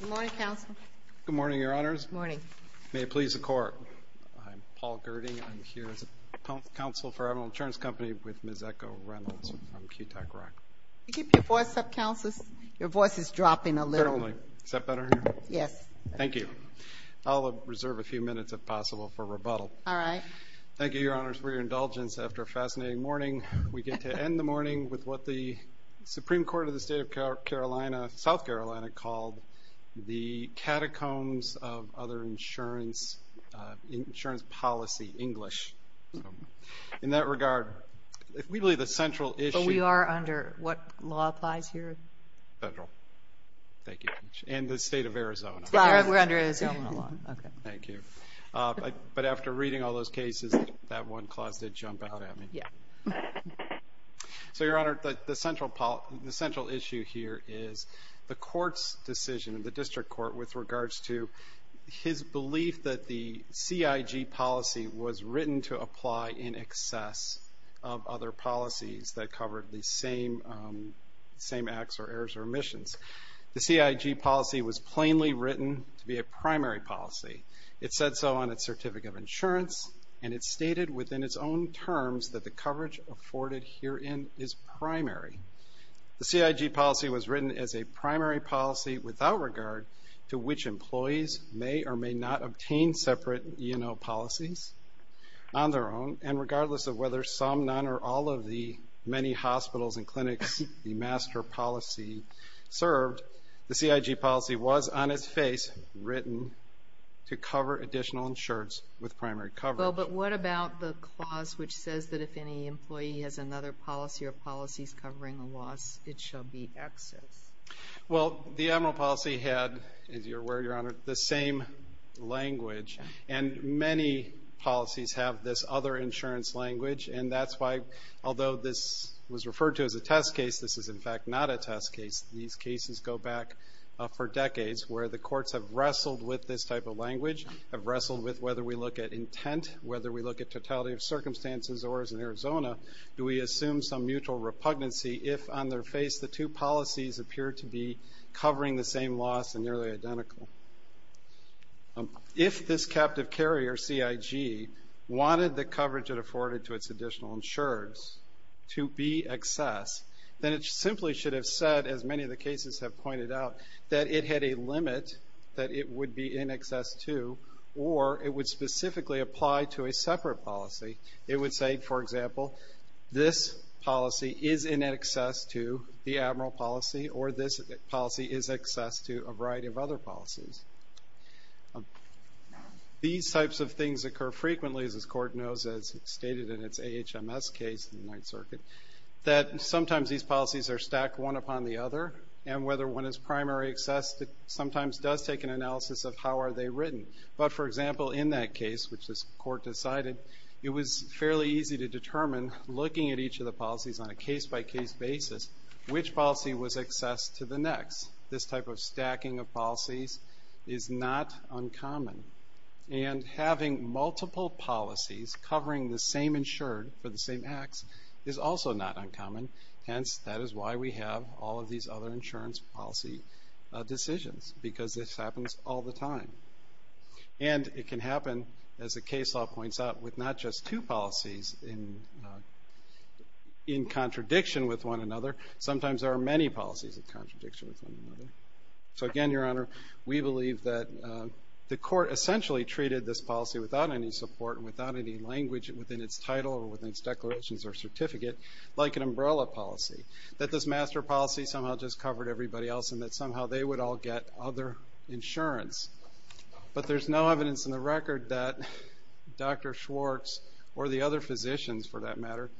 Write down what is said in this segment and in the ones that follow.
Good morning, Counsel. Good morning, Your Honors. Good morning. May it please the Court, I'm Paul Gerding. I'm here as a counsel for Evernal Insurance Company with Ms. Echo Reynolds from QTAC RAC. Can you keep your voice up, Counselors? Your voice is dropping a little. Apparently. Is that better here? Yes. Thank you. I'll reserve a few minutes, if possible, for rebuttal. All right. Thank you, Your Honors, for your indulgence. After a fascinating morning, we get to end the morning with what the Supreme Court of the State of South Carolina called the catacombs of other insurance policy, English. In that regard, we believe the central issue... But we are under what law applies here? Federal. Thank you. And the State of Arizona. We're under Arizona law. Thank you. But after reading all those cases, that one clause did jump out at me. Yeah. So, Your Honor, the central issue here is the Court's decision, the District Court, with regards to his belief that the CIG policy was written to apply in excess of other policies that covered the same acts or errors or omissions. The CIG policy was plainly written to be a primary policy. It said so on its Certificate of Insurance, and it stated within its own terms that the coverage afforded herein is primary. The CIG policy was written as a primary policy without regard to which employees may or may not obtain separate E&O policies on their own, and regardless of whether some, none, or all of the many hospitals and clinics the master policy served, the CIG policy was, on its face, written to cover additional insurance with primary coverage. Well, but what about the clause which says that if any employee has another policy or policies covering a loss, it shall be excess? Well, the Emerald Policy had, as you're aware, Your Honor, the same language, and many policies have this other insurance language, and that's why, although this was so back for decades, where the courts have wrestled with this type of language, have wrestled with whether we look at intent, whether we look at totality of circumstances, or, as in Arizona, do we assume some mutual repugnancy if, on their face, the two policies appear to be covering the same loss and nearly identical? If this captive carrier, CIG, wanted the coverage it afforded to its additional insurers to be excess, then it simply should have said, as many of the cases have pointed out, that it had a limit that it would be in excess to, or it would specifically apply to a separate policy. It would say, for example, this policy is in excess to the Emerald Policy, or this policy is excess to a variety of other policies. These types of things occur frequently, as this Court knows, as stated in its AHMS case, in the Ninth Circuit, that sometimes these policies are stacked one upon the other, and whether one is primary excess sometimes does take an analysis of how are they written. But, for example, in that case, which this Court decided, it was fairly easy to determine, looking at each of the policies on a case-by-case basis, which policy was excess to the next. This type of stacking of policies is not uncommon. And having multiple policies covering the same insured for the same acts is also not uncommon. Hence, that is why we have all of these other insurance policy decisions, because this happens all the time. And it can happen, as the case law points out, with not just two policies in contradiction with one another. Sometimes there are many policies in contradiction with one another. So, again, Your Honor, we believe that the Court essentially treated this policy without any support and without any language within its title or within its declarations or certificate, like an umbrella policy. That this master policy somehow just covered everybody else, and that somehow they would all get other insurance. But there's no evidence in the record that Dr. Schwartz or the other physicians, for that matter,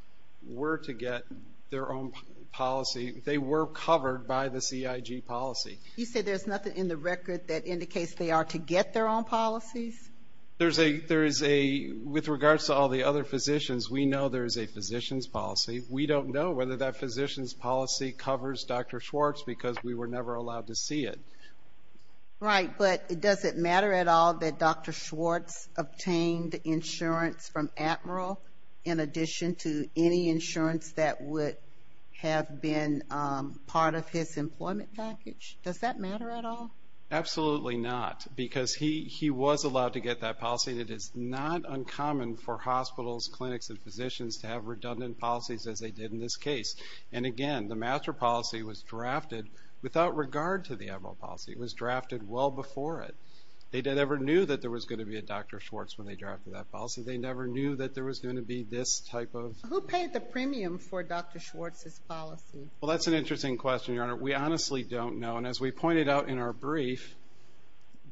were to get their own policy. They were covered by the CIG policy. You say there's nothing in the record that indicates they are to get their own policies? There is a, with regards to all the other physicians, we know there is a physician's policy. We don't know whether that physician's policy covers Dr. Schwartz, because we were never allowed to see it. Right, but does it matter at all that Dr. Schwartz obtained insurance from Admiral in addition to any insurance that would have been part of his employment package? Does that matter at all? Absolutely not, because he was allowed to get that policy. It is not uncommon for hospitals, clinics, and physicians to have redundant policies as they did in this case. And again, the master policy was drafted without regard to the Admiral policy. It was drafted well before it. They never knew that there was going to be a Dr. Schwartz when they drafted that policy. They never knew that there was going to be this type of... Who paid the premium for Dr. Schwartz's policy? Well, that's an interesting question, Your Honor. We honestly don't know. And as we pointed out in our brief,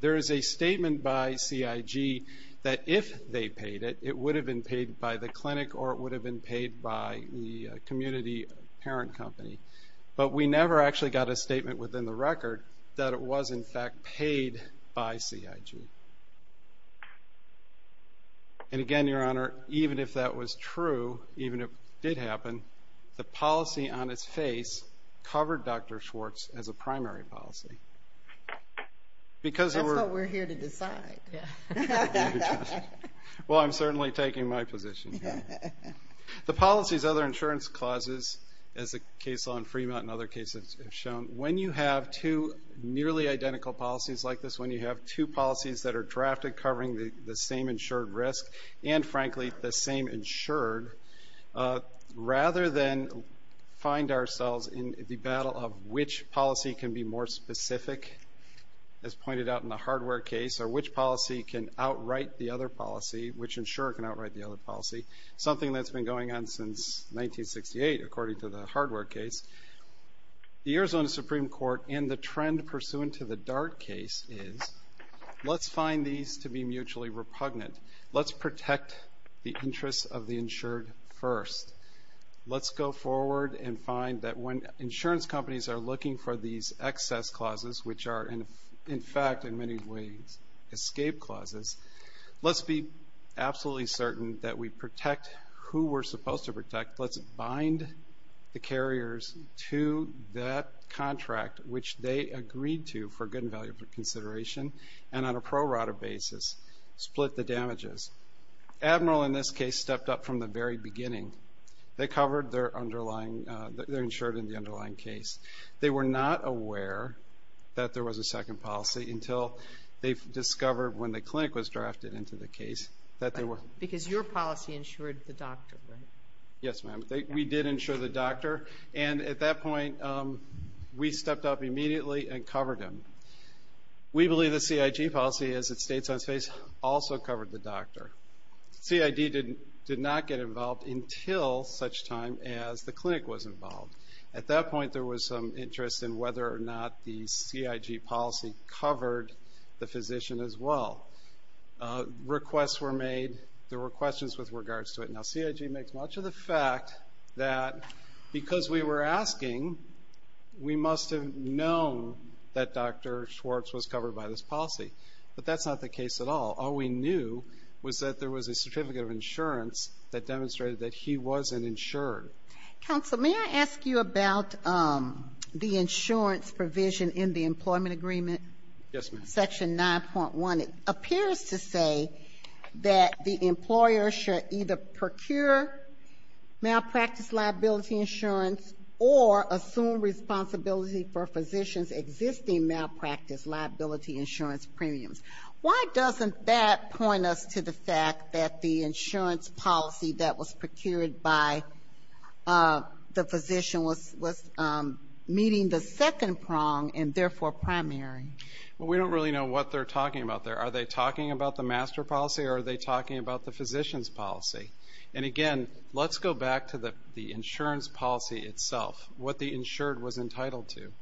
there is a statement by CIG that if they paid it, it would have been paid by the clinic or it would have been paid by the community parent company. But we never actually got a statement within the record that it was in fact paid by CIG. And again, Your Honor, even if that was true, even if it did happen, the policy on its face covered Dr. Schwartz as a primary policy. That's what we're here to decide. Well, I'm certainly taking my position. The policies, other insurance clauses, as the case law in Fremont and other cases have shown, when you have two nearly identical policies like this, when you have two policies that are drafted covering the same insured risk and frankly the same insured, rather than find ourselves in the battle of which policy can be more specific, as pointed out in the hardware case, or which policy can outright the other policy, which insurer can outright the other policy, something that's been going on since 1968 according to the hardware case. The Arizona Supreme Court and the trend pursuant to the Dart case is, let's find these to be mutually repugnant. Let's protect the interests of the insured first. Let's go forward and find that when insurance companies are looking for these excess clauses, which are, in fact, in many ways, escape clauses, let's be absolutely certain that we protect who we're supposed to protect. Let's bind the carriers to that contract, which they agreed to for good and valuable consideration, and on a pro rata basis, split the damages. Admiral, in this case, stepped up from the very beginning. They covered their insured in the underlying case. They were not aware that there was a second policy until they discovered when the clinic was drafted into the case that there were. Because your policy insured the doctor, right? Yes, ma'am. We did insure the doctor, and at that point, we stepped up immediately and covered him. We believe the CIG policy, as it states on its face, also covered the doctor. CID did not get involved until such time as the clinic was involved. At that point, there was some interest in whether or not the CIG policy covered the physician as well. Requests were made. There were questions with regards to it. Now, CIG makes much of the fact that because we were asking, we must have known that Dr. Schwartz was covered by this policy, but that's not the case at all. All we knew was that there was a certificate of insurance that demonstrated that he wasn't insured. Counsel, may I ask you about the insurance provision in the employment agreement? Yes, ma'am. Section 9.1. It appears to say that the employer should either procure malpractice liability insurance or assume responsibility for a physician's existing malpractice liability insurance premiums. Why doesn't that point us to the fact that the insurance policy that was procured by the physician was meeting the second prong and therefore primary? Well, we don't really know what they're talking about there. Are they talking about the master policy or are they talking about the physician's policy? And again, let's go back to the insurance policy itself, what the insured was entitled to.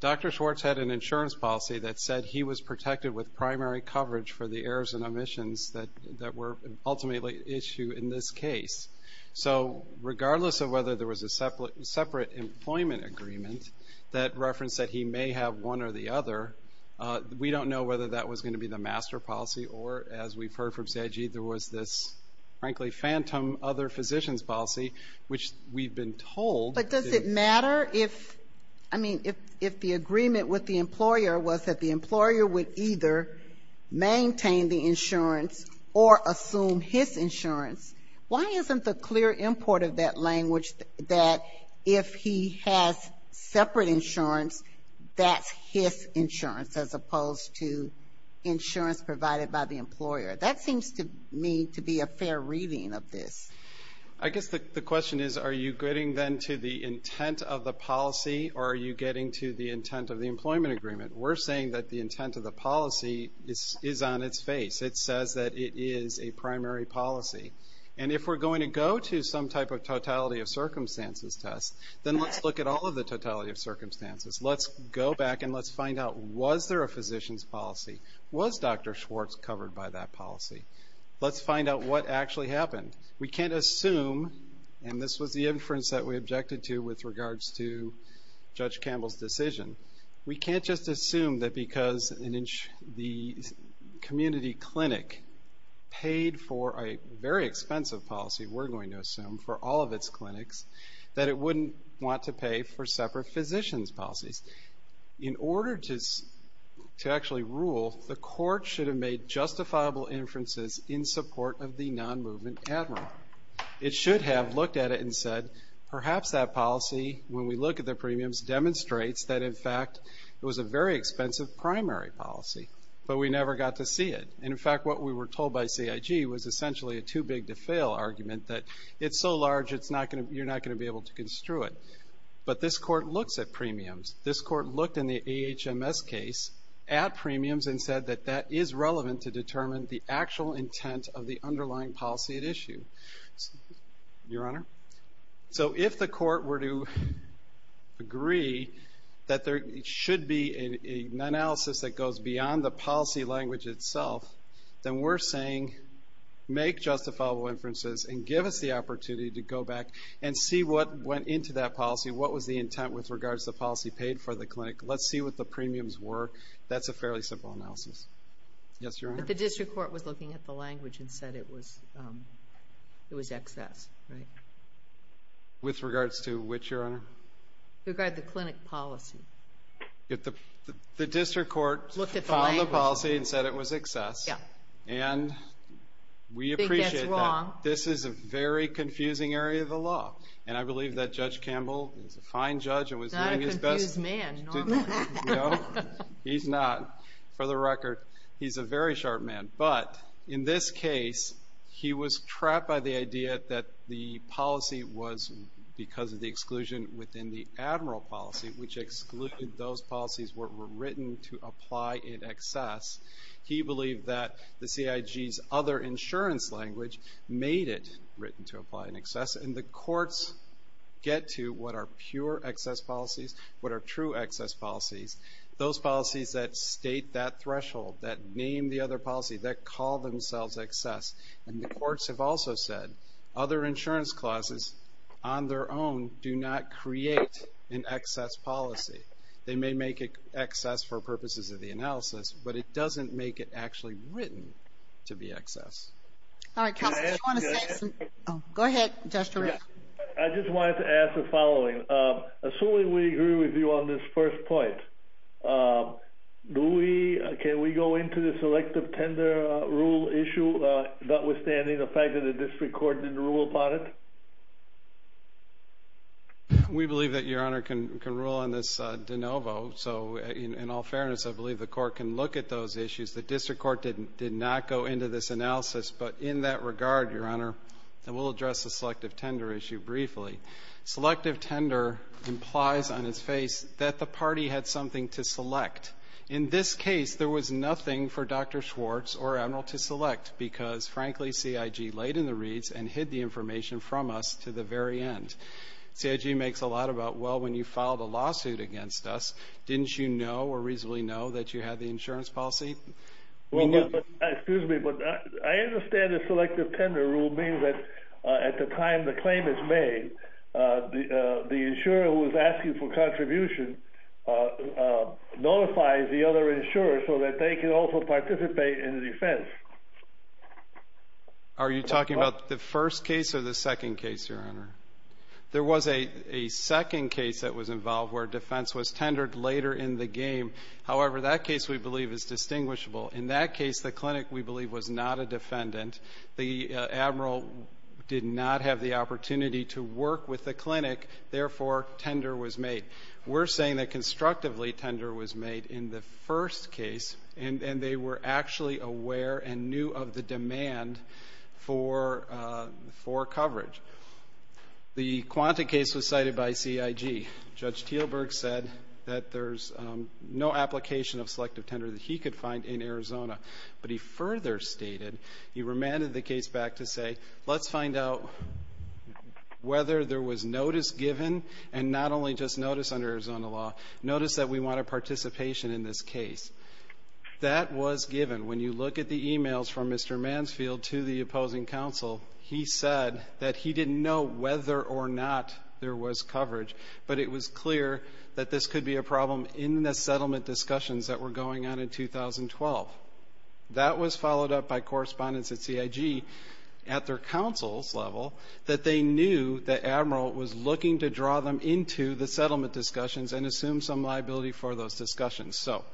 Dr. Schwartz had an insurance policy that said he was protected with primary coverage for the errors and omissions that were ultimately at issue in this case. So regardless of whether there was a separate employment agreement that referenced that he may have one or the other, we don't know whether that was going to be the master policy or, as we've heard from CIG, there was this frankly phantom other physician's policy, which we've been told. But does it matter if, I mean, if the agreement with the employer was that the employer would either maintain the insurance or assume his insurance, why isn't the clear import of that language that if he has separate insurance, that's his insurance as opposed to insurance provided by the employer? That seems to me to be a fair reading of this. I guess the question is, are you getting then to the intent of the policy or are you getting to the intent of the employment agreement? We're saying that the intent of the policy is on its face. It says that it is a primary policy. And if we're going to go to some type of totality of circumstances test, then let's look at all of the totality of circumstances. Let's go back and let's find out, was there a physician's policy? Was Dr. Schwartz covered by that policy? Let's find out what actually happened. We can't assume, and this was the inference that we objected to with regards to Judge Campbell's decision, we can't just assume that because the community clinic paid for a very expensive policy, we're going to assume, for all of its clinics, that it wouldn't want to pay for separate physician's policies. In order to actually rule, the court should have made justifiable inferences in support of the non-movement admiral. It should have looked at it and said, perhaps that policy, when we look at the premiums, demonstrates that, in fact, it was a very expensive primary policy, but we never got to see it. And, in fact, what we were told by CIG was essentially a too-big-to-fail argument that it's so large you're not going to be able to construe it. But this court looks at premiums. This court looked in the AHMS case at premiums and said that that is relevant to determine the actual intent of the underlying policy at issue. Your Honor? So if the court were to agree that there should be an analysis that goes beyond the policy language itself, then we're saying, make justifiable inferences and give us the opportunity to go back and see what went into that policy, what was the intent with regards to the policy paid for the clinic. Let's see what the premiums were. That's a fairly simple analysis. Yes, Your Honor? But the district court was looking at the language and said it was excess, right? With regards to which, Your Honor? With regard to the clinic policy. The district court found the policy and said it was excess. Yeah. I think that's wrong. This is a very confusing area of the law. And I believe that Judge Campbell is a fine judge and was doing his best... He's not a confused man, normally. No, he's not. For the record, he's a very sharp man. But in this case, he was trapped by the idea that the policy was because of the exclusion within the Admiral policy, which excluded those policies that were written to apply in excess. He believed that the CIG's other insurance language made it written to apply in excess. And the courts get to what are pure excess policies, what are true excess policies, those policies that state that threshold, that name the other policy, that call themselves excess. And the courts have also said other insurance clauses on their own do not create an excess policy. They may make it excess for purposes of the analysis, but it doesn't make it actually written to be excess. All right, Counselor, do you want to say something? Go ahead, Judge Toretto. I just wanted to ask the following. Assuming we agree with you on this first point, do we... Can we go into this elective tender rule issue notwithstanding the fact that the district court didn't rule upon it? We believe that Your Honor can rule on this de novo. So, in all fairness, I believe the court can look at those issues. The district court did not go into this analysis, but in that regard, Your Honor, and we'll address the selective tender issue briefly. Selective tender implies on its face that the party had something to select. In this case, there was nothing for Dr. Schwartz or Admiral to select because, frankly, CIG laid in the reeds and hid the information from us to the very end. CIG makes a lot about, well, when you filed a lawsuit against us, didn't you know or reasonably know that you had the insurance policy? Well, excuse me, but I understand the selective tender rule means that at the time the claim is made, the insurer who is asking for contribution notifies the other insurers so that they can also participate in the defense. Are you talking about the first case or the second case, Your Honor? There was a second case that was involved where defense was tendered later in the game. However, that case, we believe, is distinguishable. In that case, the clinic, we believe, was not a defendant. The admiral did not have the opportunity to work with the clinic. Therefore, tender was made. We're saying that constructively, tender was made in the first case, and they were actually aware and knew of the demand for coverage. The Quanta case was cited by CIG. Judge Teelberg said that there's no application of selective tender that he could find in Arizona. But he further stated, he remanded the case back to say, let's find out whether there was notice given and not only just notice under Arizona law, notice that we want a participation in this case. That was given. When you look at the e-mails from Mr. Mansfield to the opposing counsel, he said that he didn't know whether or not there was coverage. But it was clear that this could be a problem in the settlement discussions that were going on in 2012. That was followed up by correspondence at CIG, at their counsel's level, that they knew the admiral was looking to draw them into the settlement discussions and assume some liability for those discussions. So,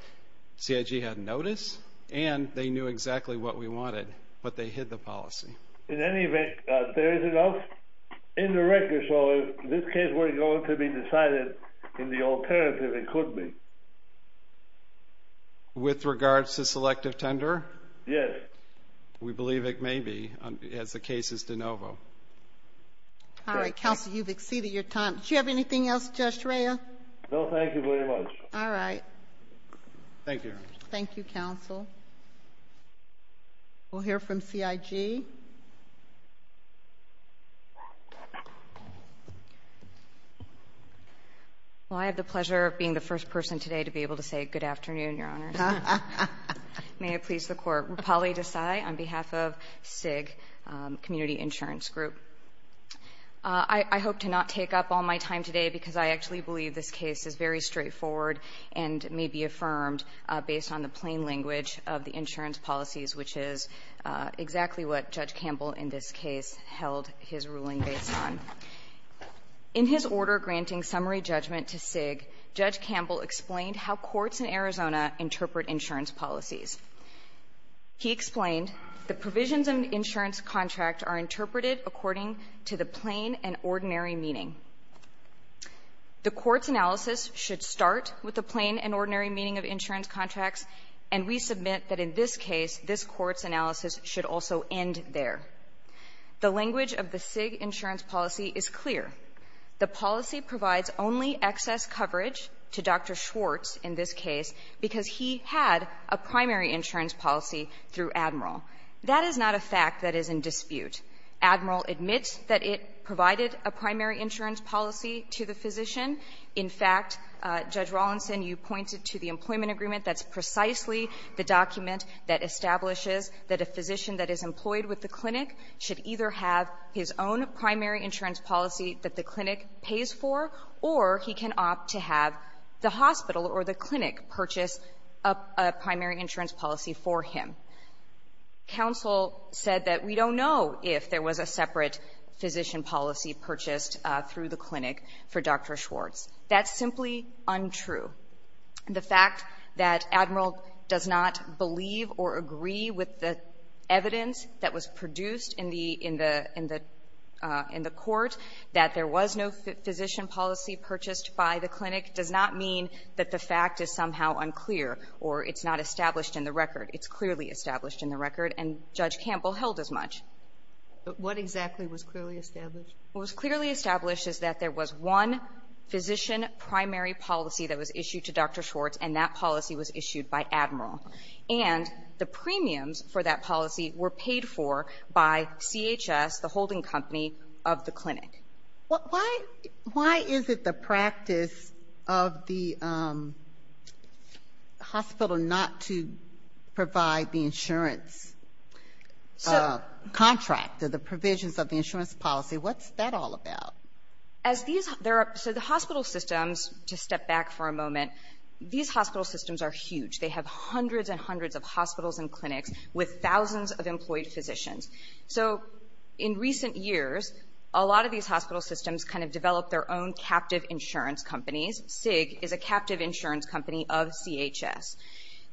CIG had notice, and they knew exactly what we wanted, but they hid the policy. In any event, there is enough in the record. So, if this case were going to be decided in the alternative, it could be. With regards to selective tender? Yes. We believe it may be, as the case is de novo. All right, counsel, you've exceeded your time. Do you have anything else, Judge Rhea? No, thank you very much. All right. Thank you. Thank you, counsel. We'll hear from CIG. Well, I have the pleasure of being the first person today to be able to say good afternoon, Your Honors. May it please the Court. Rapali Desai on behalf of CIG Community Insurance Group. I hope to not take up all my time today because I actually believe this case is very straightforward and may be affirmed based on the plain language of the insurance policies, which is exactly what Judge Campbell, in this case, held his ruling based on. In his order granting summary judgment to CIG, Judge Campbell explained how courts in Arizona interpret insurance policies. He explained the provisions in the insurance contract are interpreted according to the plain and ordinary meaning. The court's analysis should start with the plain and ordinary meaning of insurance contracts, and we submit that in this case, this court's analysis should also end there. The language of the CIG insurance policy is clear. The policy provides only excess coverage to Dr. Schwartz in this case because he had a primary insurance policy through Admiral. That is not a fact that is in dispute. Admiral admits that it provided a primary insurance policy to the physician. In fact, Judge Rawlinson, you pointed to the employment agreement that's precisely the document that establishes that a physician that is employed with the clinic should either have his own primary insurance policy that the clinic pays for, or he can opt to have the hospital or the clinic purchase a primary insurance policy for him. Counsel said that we don't know if there was a separate physician policy purchased through the clinic for Dr. Schwartz. That's simply untrue. The fact that Admiral does not believe or agree with the evidence that was produced in the court, that there was no physician policy purchased by the clinic, does not mean that the fact is somehow unclear or it's not established in the record. It's clearly established in the record, and Judge Campbell held as much. But what exactly was clearly established? What was clearly established is that there was one physician primary policy that was issued to Dr. Schwartz, and that policy was issued by Admiral. And the premiums for that policy were paid for by CHS, the holding company of the clinic. Why is it the practice of the hospital not to provide the insurance contract or the provisions of the insurance policy? What's that all about? So the hospital systems, to step back for a moment, these hospital systems are huge. They have hundreds and hundreds of hospitals and clinics with thousands of employed physicians. So in recent years, a lot of these hospital systems kind of developed their own captive insurance companies. SIG is a captive insurance company of CHS.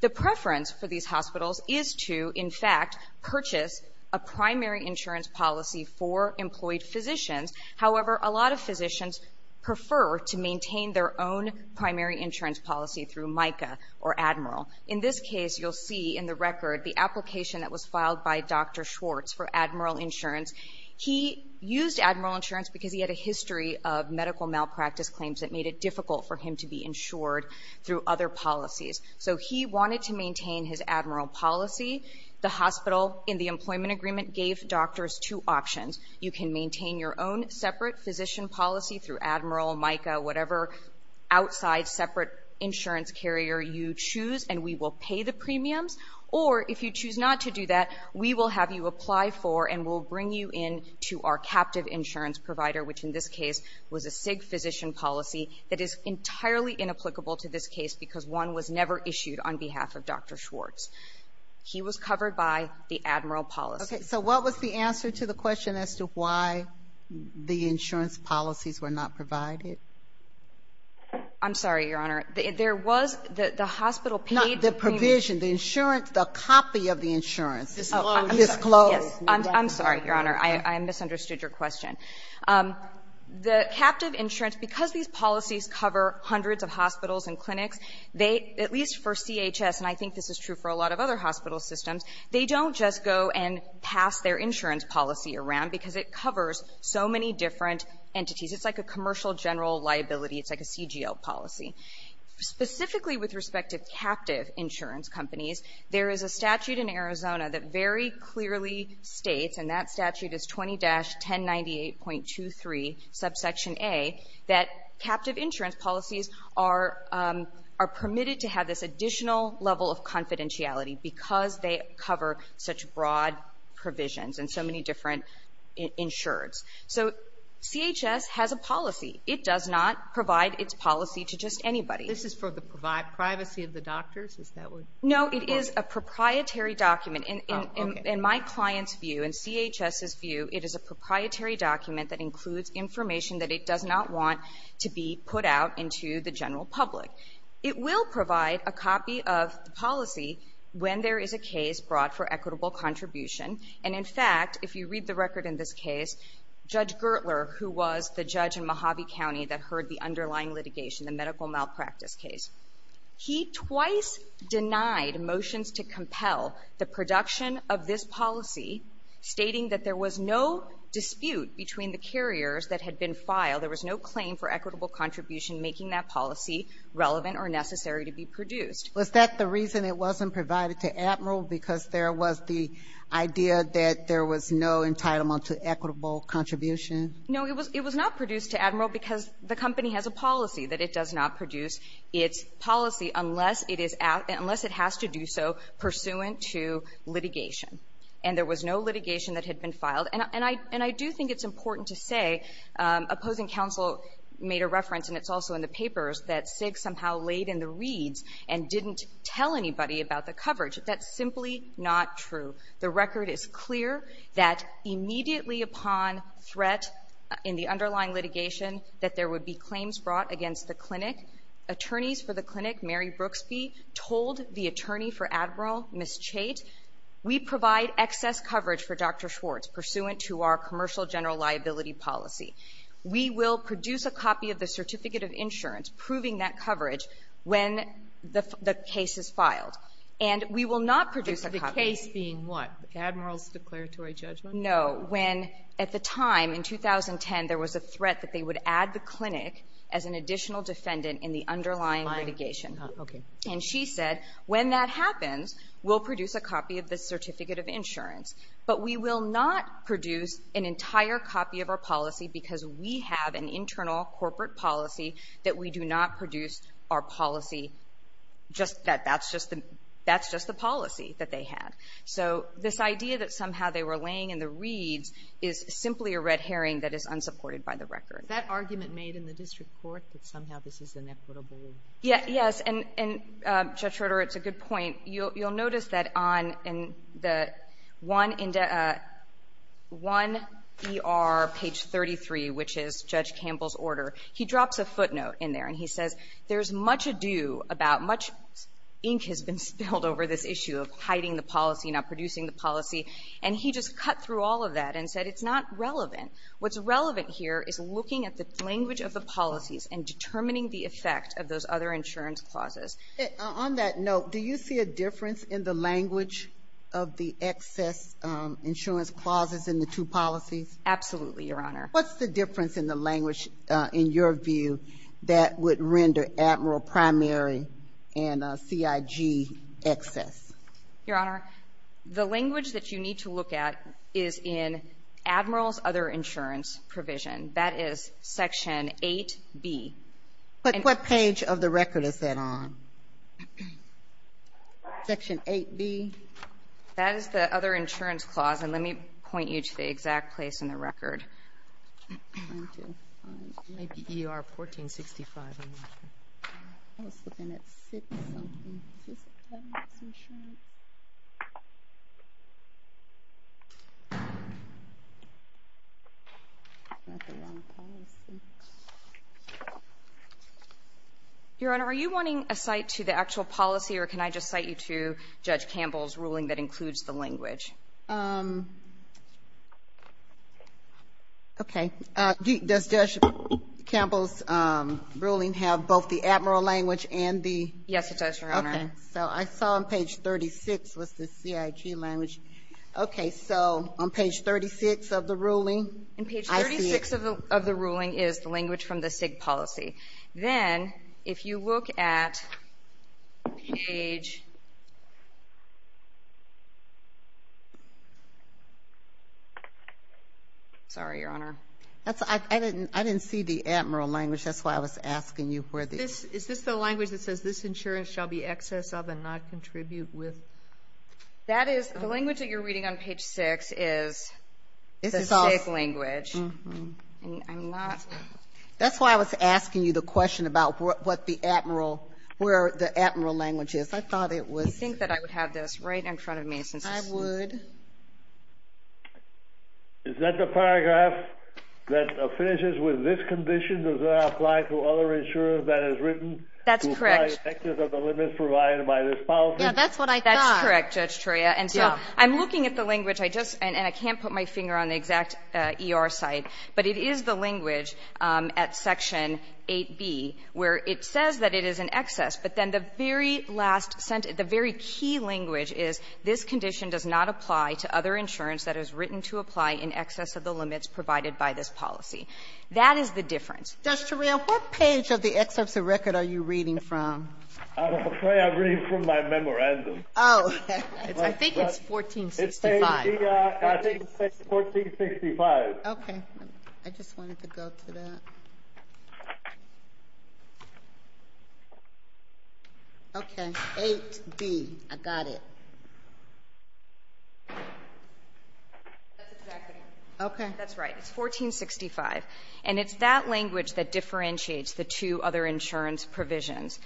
The preference for these hospitals is to, in fact, purchase a primary insurance policy for employed physicians. However, a lot of physicians prefer to maintain their own primary insurance policy through MICA or Admiral. In this case, you'll see in the record the application that was filed by Dr. Schwartz for Admiral insurance. He used Admiral insurance because he had a history of medical malpractice claims that made it difficult for him to be insured through other policies. So he wanted to maintain his Admiral policy. The hospital, in the employment agreement, gave doctors two options. You can maintain your own separate physician policy through Admiral, MICA, whatever outside separate insurance carrier you choose and we will pay the premiums. Or, if you choose not to do that, we will have you apply for and we'll bring you in to our captive insurance provider, which in this case was a SIG physician policy that is entirely inapplicable to this case because one was never issued on behalf of Dr. Schwartz. He was covered by the Admiral policy. So what was the answer to the question as to why the insurance policies were not provided? I'm sorry, Your Honor. The hospital paid the premiums. Not the provision. The insurance, the copy of the insurance. Disclose. I'm sorry, Your Honor. I misunderstood your question. The captive insurance, because these policies cover hundreds of hospitals and clinics, at least for CHS, and I think this is true for a lot of other hospital systems, they don't just go and pass their insurance policy around because it covers so many different entities. It's like a commercial general liability. It's like a CGL policy. Specifically with respect to captive insurance companies, there is a statute in Arizona that very clearly states, and that statute is 20-1098.23 subsection A, that captive insurance policies are permitted to have this additional level of confidentiality because they cover such broad provisions and so many different insureds. So, CHS has a policy. It does not provide its policy to just anybody. This is for the privacy of the doctors? No, it is a proprietary document. In my client's view, in CHS's view, it is a proprietary document that includes information that it does not want to be put out into the general public. It will provide a copy of the policy when there is a case brought for equitable contribution. And in fact, if you read the record in this case, Judge Gertler, who was the judge in Mojave County that heard the underlying litigation, the medical malpractice case, he twice denied motions to compel the production of this policy stating that there was no dispute between the carriers that had been filed. There was no claim for equitable contribution making that policy relevant or necessary to be produced. Was that the reason it wasn't provided to Admiral because there was the idea that there was no entitlement to equitable contribution? No, it was not produced to Admiral because the company has a policy that it does not produce its policy unless it has to do so pursuant to litigation. And there was no litigation that had been filed. And I do think it's important to say opposing counsel made a reference and it's also in the papers that SIG somehow laid in the reads and didn't tell anybody about the coverage. That's simply not true. The record is clear that immediately upon threat in the underlying litigation that there would be claims brought against the clinic. Attorneys for the clinic, Mary Brooksby, told the attorney for Admiral, Ms. Chait, we provide excess coverage for Dr. Schwartz pursuant to our commercial general liability policy. We will produce a copy of the certificate of insurance proving that coverage when the case is filed. And we will not produce a copy. The case being what? Admiral's declaratory judgment? No. When at the time in 2010 there was a threat that they would add the clinic as an additional defendant in the underlying litigation. And she said when that happens we'll produce a copy of the certificate of insurance. But we will not produce an entire copy of our policy because we have an internal corporate policy that we do not produce our policy just that. That's just the policy that they had. So this idea that somehow they were laying in the reeds is simply a red herring that is unsupported by the record. Is that argument made in the district court that somehow this is inequitable? Yes. And Judge Schroeder it's a good point. You'll notice that on the one ER page 33 which is Judge Campbell's order he drops a footnote in there and he says there's much ado about much ink has been spilled over this issue of hiding the policy, not producing the policy. And he just cut through all of that and said it's not relevant. What's relevant here is looking at the language of the policies and determining the effect of those other insurance clauses. On that note do you see a difference in the language of the excess insurance clauses in the two policies? Absolutely, Your Honor. What's the difference in the language in your view that would render Admiral Primary and CIG excess? Your Honor the language that you need to look at is in Admiral's other insurance provision. That is Section 8B. But what page of the record is that on? Section 8B? That is the other insurance clause and let me point you to the record. Your Honor, are you wanting a cite to the actual policy or can I just cite you to Judge Campbell's ruling that includes the language? Okay. Does Judge Campbell's ruling have both the Admiral language and the? Yes it does, Your Honor. So I saw on page 36 was the CIG language. Okay, so on page 36 of the ruling. And page 36 of the ruling is the language from the CIG policy. Then if you look at page Sorry, Your Honor. I didn't see the Admiral language. That's why I was asking you. Is this the language that says this insurance shall be excess of and not contribute with? That is, the language that you're reading on page 6 is the CIG language. That's why I was asking you the question about what the Admiral, where the Admiral language is. I thought it was I think that I would have this right in front of me. I would. Is that the paragraph that finishes with this condition does not apply to other insurance that is written? That's correct. Excess of the limit provided by this policy? Yeah, that's what I thought. That's correct, Judge Treya. And so, I'm looking at the language. I just and I can't put my finger on the exact ER site, but it is the language at section 8B where it says that it is an excess. But then the very last sentence, the very key language is this condition does not apply to other insurance that is written to apply in excess of the limits provided by this policy. That is the difference. Judge Treya, what page of the excerpts of record are you reading from? I'm afraid I'm reading from my memorandum. Oh. I think it's 1465. I think it says 1465. Okay. I just wanted to go to that. Okay. 8B. I got it. That's exactly right. Okay. That's right. It's 1465. And it's that language that differentiates the two other insurance provisions.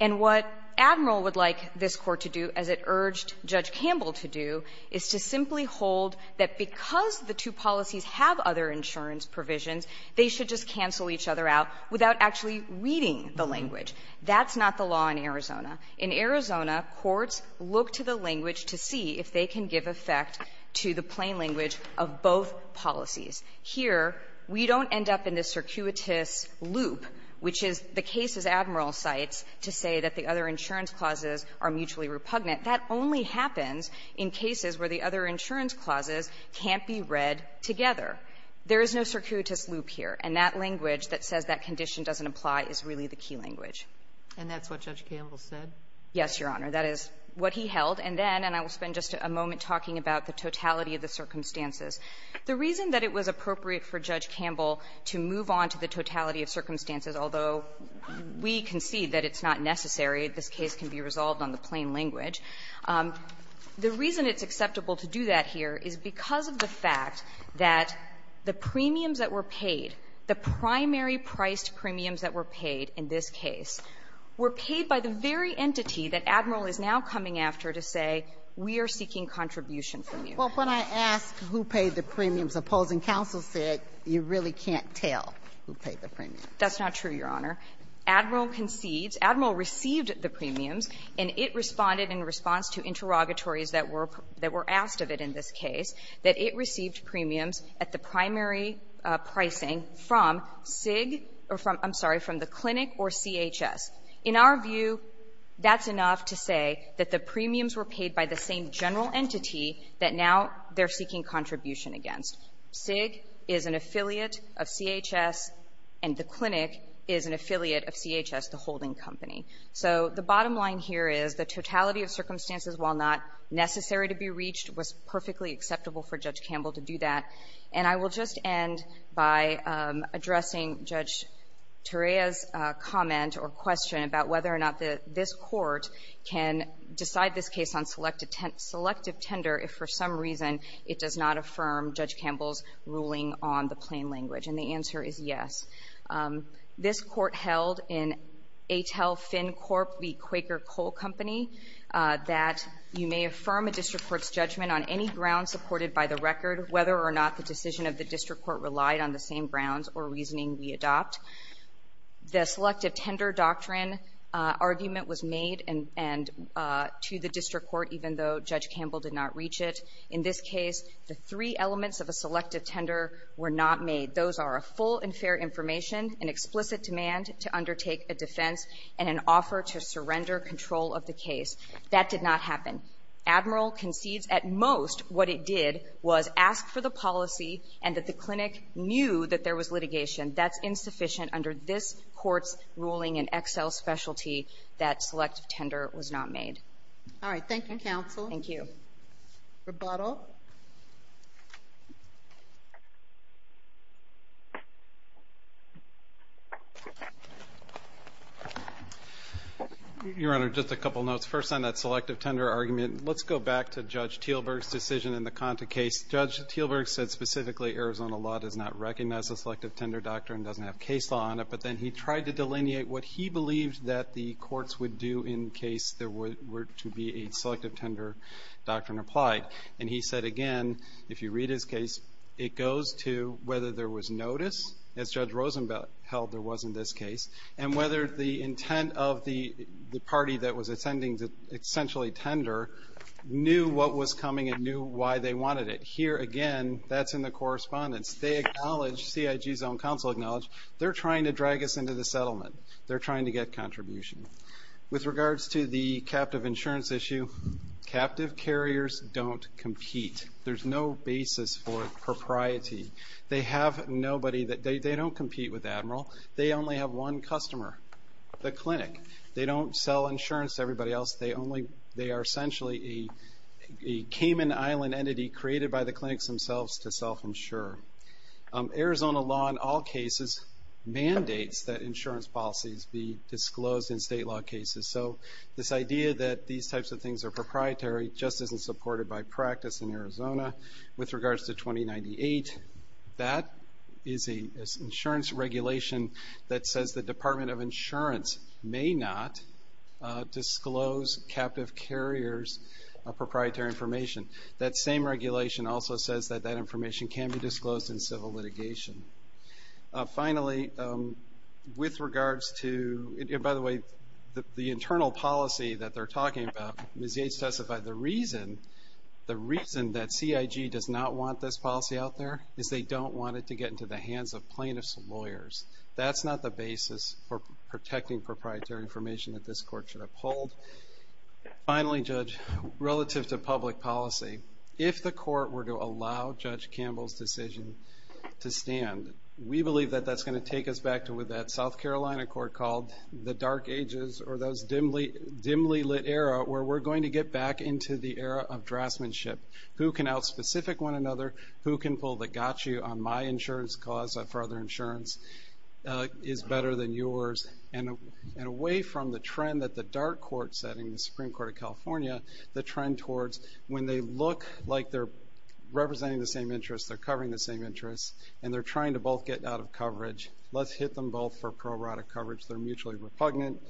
And what Admiral would like this Court to do, as it urged Judge Campbell to do, is to simply hold that because the two policies have other insurance provisions, they should just cancel each other out without actually reading the language. That's not the law in this case. The courts look to the language to see if they can give effect to the plain language of both policies. Here, we don't end up in this circuitous loop, which is the case, as Admiral cites, to say that the other insurance clauses are mutually repugnant. That only happens in cases where the other insurance clauses can't be read together. There is no circuitous loop here. And that language that says that condition doesn't apply is really the key language. And that's what he held. And then, and I will spend just a moment talking about the totality of the circumstances. The reason that it was appropriate for Judge Campbell to move on to the totality of circumstances, although we concede that it's not necessary, this case can be resolved on the plain language, the reason it's acceptable to do that here is because of the fact that the premiums that were paid, the primary-priced premiums that were paid in this case, were paid by the very entity that Admiral is now commenting after to say, we are seeking contribution from you. Ginsburg. Well, when I asked who paid the premiums, opposing counsel said, you really can't tell who paid the premiums. That's not true, Your Honor. Admiral concedes. Admiral received the premiums, and it responded in response to interrogatories that were asked of it in this case, that it received premiums at the primary pricing from SIG or from the clinic or CHS. In our view, that's enough to say that the premiums were paid by the same general entity that now they're seeking contribution against. SIG is an affiliate of CHS, and the clinic is an affiliate of CHS, the holding company. So the bottom line here is the totality of circumstances, while not necessary to be reached, was perfectly acceptable for Judge Campbell to do that. And I will just end by addressing Judge Torea's comment or question about whether or not this Court can decide this case on selective tender if, for some reason, it does not affirm Judge Campbell's ruling on the plain language. And the answer is yes. This Court held in ATEL-FinCorp v. Quaker Coal Company that you may affirm a district court's judgment on any ground supported by the record, whether or not the decision of the district court relied on the same grounds or reasoning we adopt. The selective tender doctrine argument was made and to the district court, even though Judge Campbell did not reach it. In this case, the three elements of a selective tender were not made. Those are a full and fair information, an explicit demand to undertake a defense, and an offer to surrender control of the case. That did not happen. Admiral concedes at most what it did was ask for the policy and that was sufficient under this Court's ruling in Excel Specialty that selective tender was not made. All right. Thank you, counsel. Thank you. Rebuttal. Your Honor, just a couple notes. First on that selective tender argument, let's go back to Judge Teelberg's decision in the Conta case. Judge Teelberg said specifically Arizona law does not recognize the selective tender doctrine, doesn't have case law on it, but then he tried to delineate what he believed that the courts would do in case there were to be a selective tender doctrine applied. And he said again, if you read his case, it goes to whether there was notice, as Judge Rosenblatt held there was in this case, and whether the intent of the party that was attending the essentially tender knew what was coming and knew why they wanted it. Here again, that's in the correspondence. They acknowledge, CIG's own counsel acknowledged, they're trying to drag us into the settlement. They're trying to get contribution. With regards to the captive insurance issue, captive carriers don't compete. There's no basis for propriety. They have nobody that, they don't compete with Admiral. They only have one customer, the clinic. They don't sell insurance to everybody else. They only, they are essentially a Cayman Island entity created by the clinics themselves to self-insure. Arizona law in all cases mandates that insurance policies be disclosed in state law cases. So this idea that these types of things are proprietary just isn't supported by practice in Arizona. With regards to 2098, that is an insurance regulation that says the Department of Insurance may not disclose captive carriers' proprietary information. That same regulation also says that that should be disclosed in civil litigation. Finally, with regards to, by the way, the internal policy that they're talking about, Ms. Yates testified, the reason that CIG does not want this policy out there is they don't want it to get into the hands of plaintiff's lawyers. That's not the basis for protecting proprietary information that this court should uphold. Finally, Judge, relative to public policy, if the court were to allow Judge Campbell's decision to stand, we believe that that's going to take us back to what that South Carolina court called the dark ages or those dimly lit era where we're going to get back into the era of draftsmanship. Who can out-specific one another, who can pull the got you on my insurance cause for other insurance is better than yours. And away from the trend that the dark court setting, the Supreme Court of California, the trend towards when they look like they're representing the same interests, they're covering the same interests, and they're trying to both get out of coverage. Let's hit them both for prorotic coverage. They're mutually repugnant.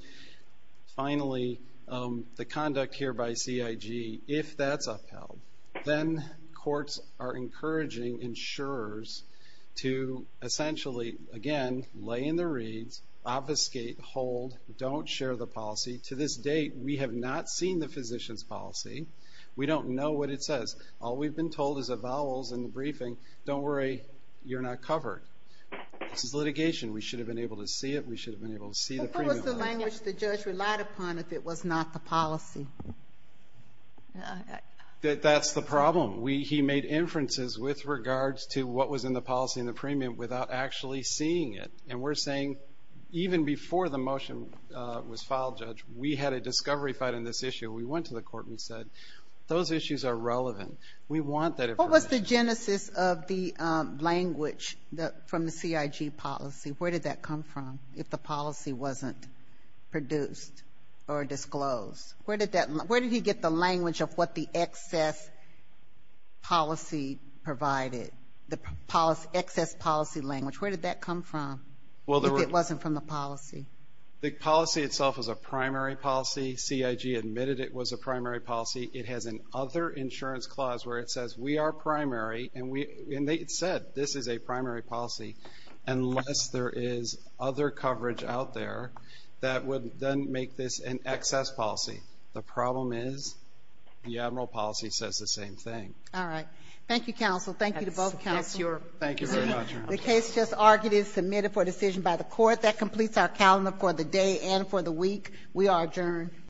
Finally, the conduct here by CIG, if that's upheld, then courts are encouraging insurers to essentially, again, lay in their reeds, obfuscate, hold, don't share the policy. To this date, we have not seen the physician's policy. We don't know what it says. All we've been told is the vowels in the briefing, don't worry, you're not covered. This is litigation. We should have been able to see it. We should have been able to see the premium. What was the language the judge relied upon if it was not the policy? That's the problem. He made inferences with regards to what was in the policy and the premium without actually seeing it. And we're saying, even before the motion was filed, Judge, we had a discovery fight in this issue. We went to the court and we said, those issues are relevant. We want that information. What was the genesis of the language from the CIG policy? Where did that come from, if the policy wasn't produced or disclosed? Where did he get the language of what the excess policy provided, the excess policy language? Where did that come from, if it wasn't from the policy? The policy itself is a primary policy. CIG admitted it was a primary policy. It has an other insurance clause where it says, we are primary. And it said, this is a primary policy unless there is other coverage out there that would then make this an excess policy. The problem is, the admiral policy says the same thing. All right. Thank you, counsel. Thank you to both counsel. Thank you very much. The case just argued is submitted for decision by the court. That completes our calendar for the day and for the week. We are adjourned.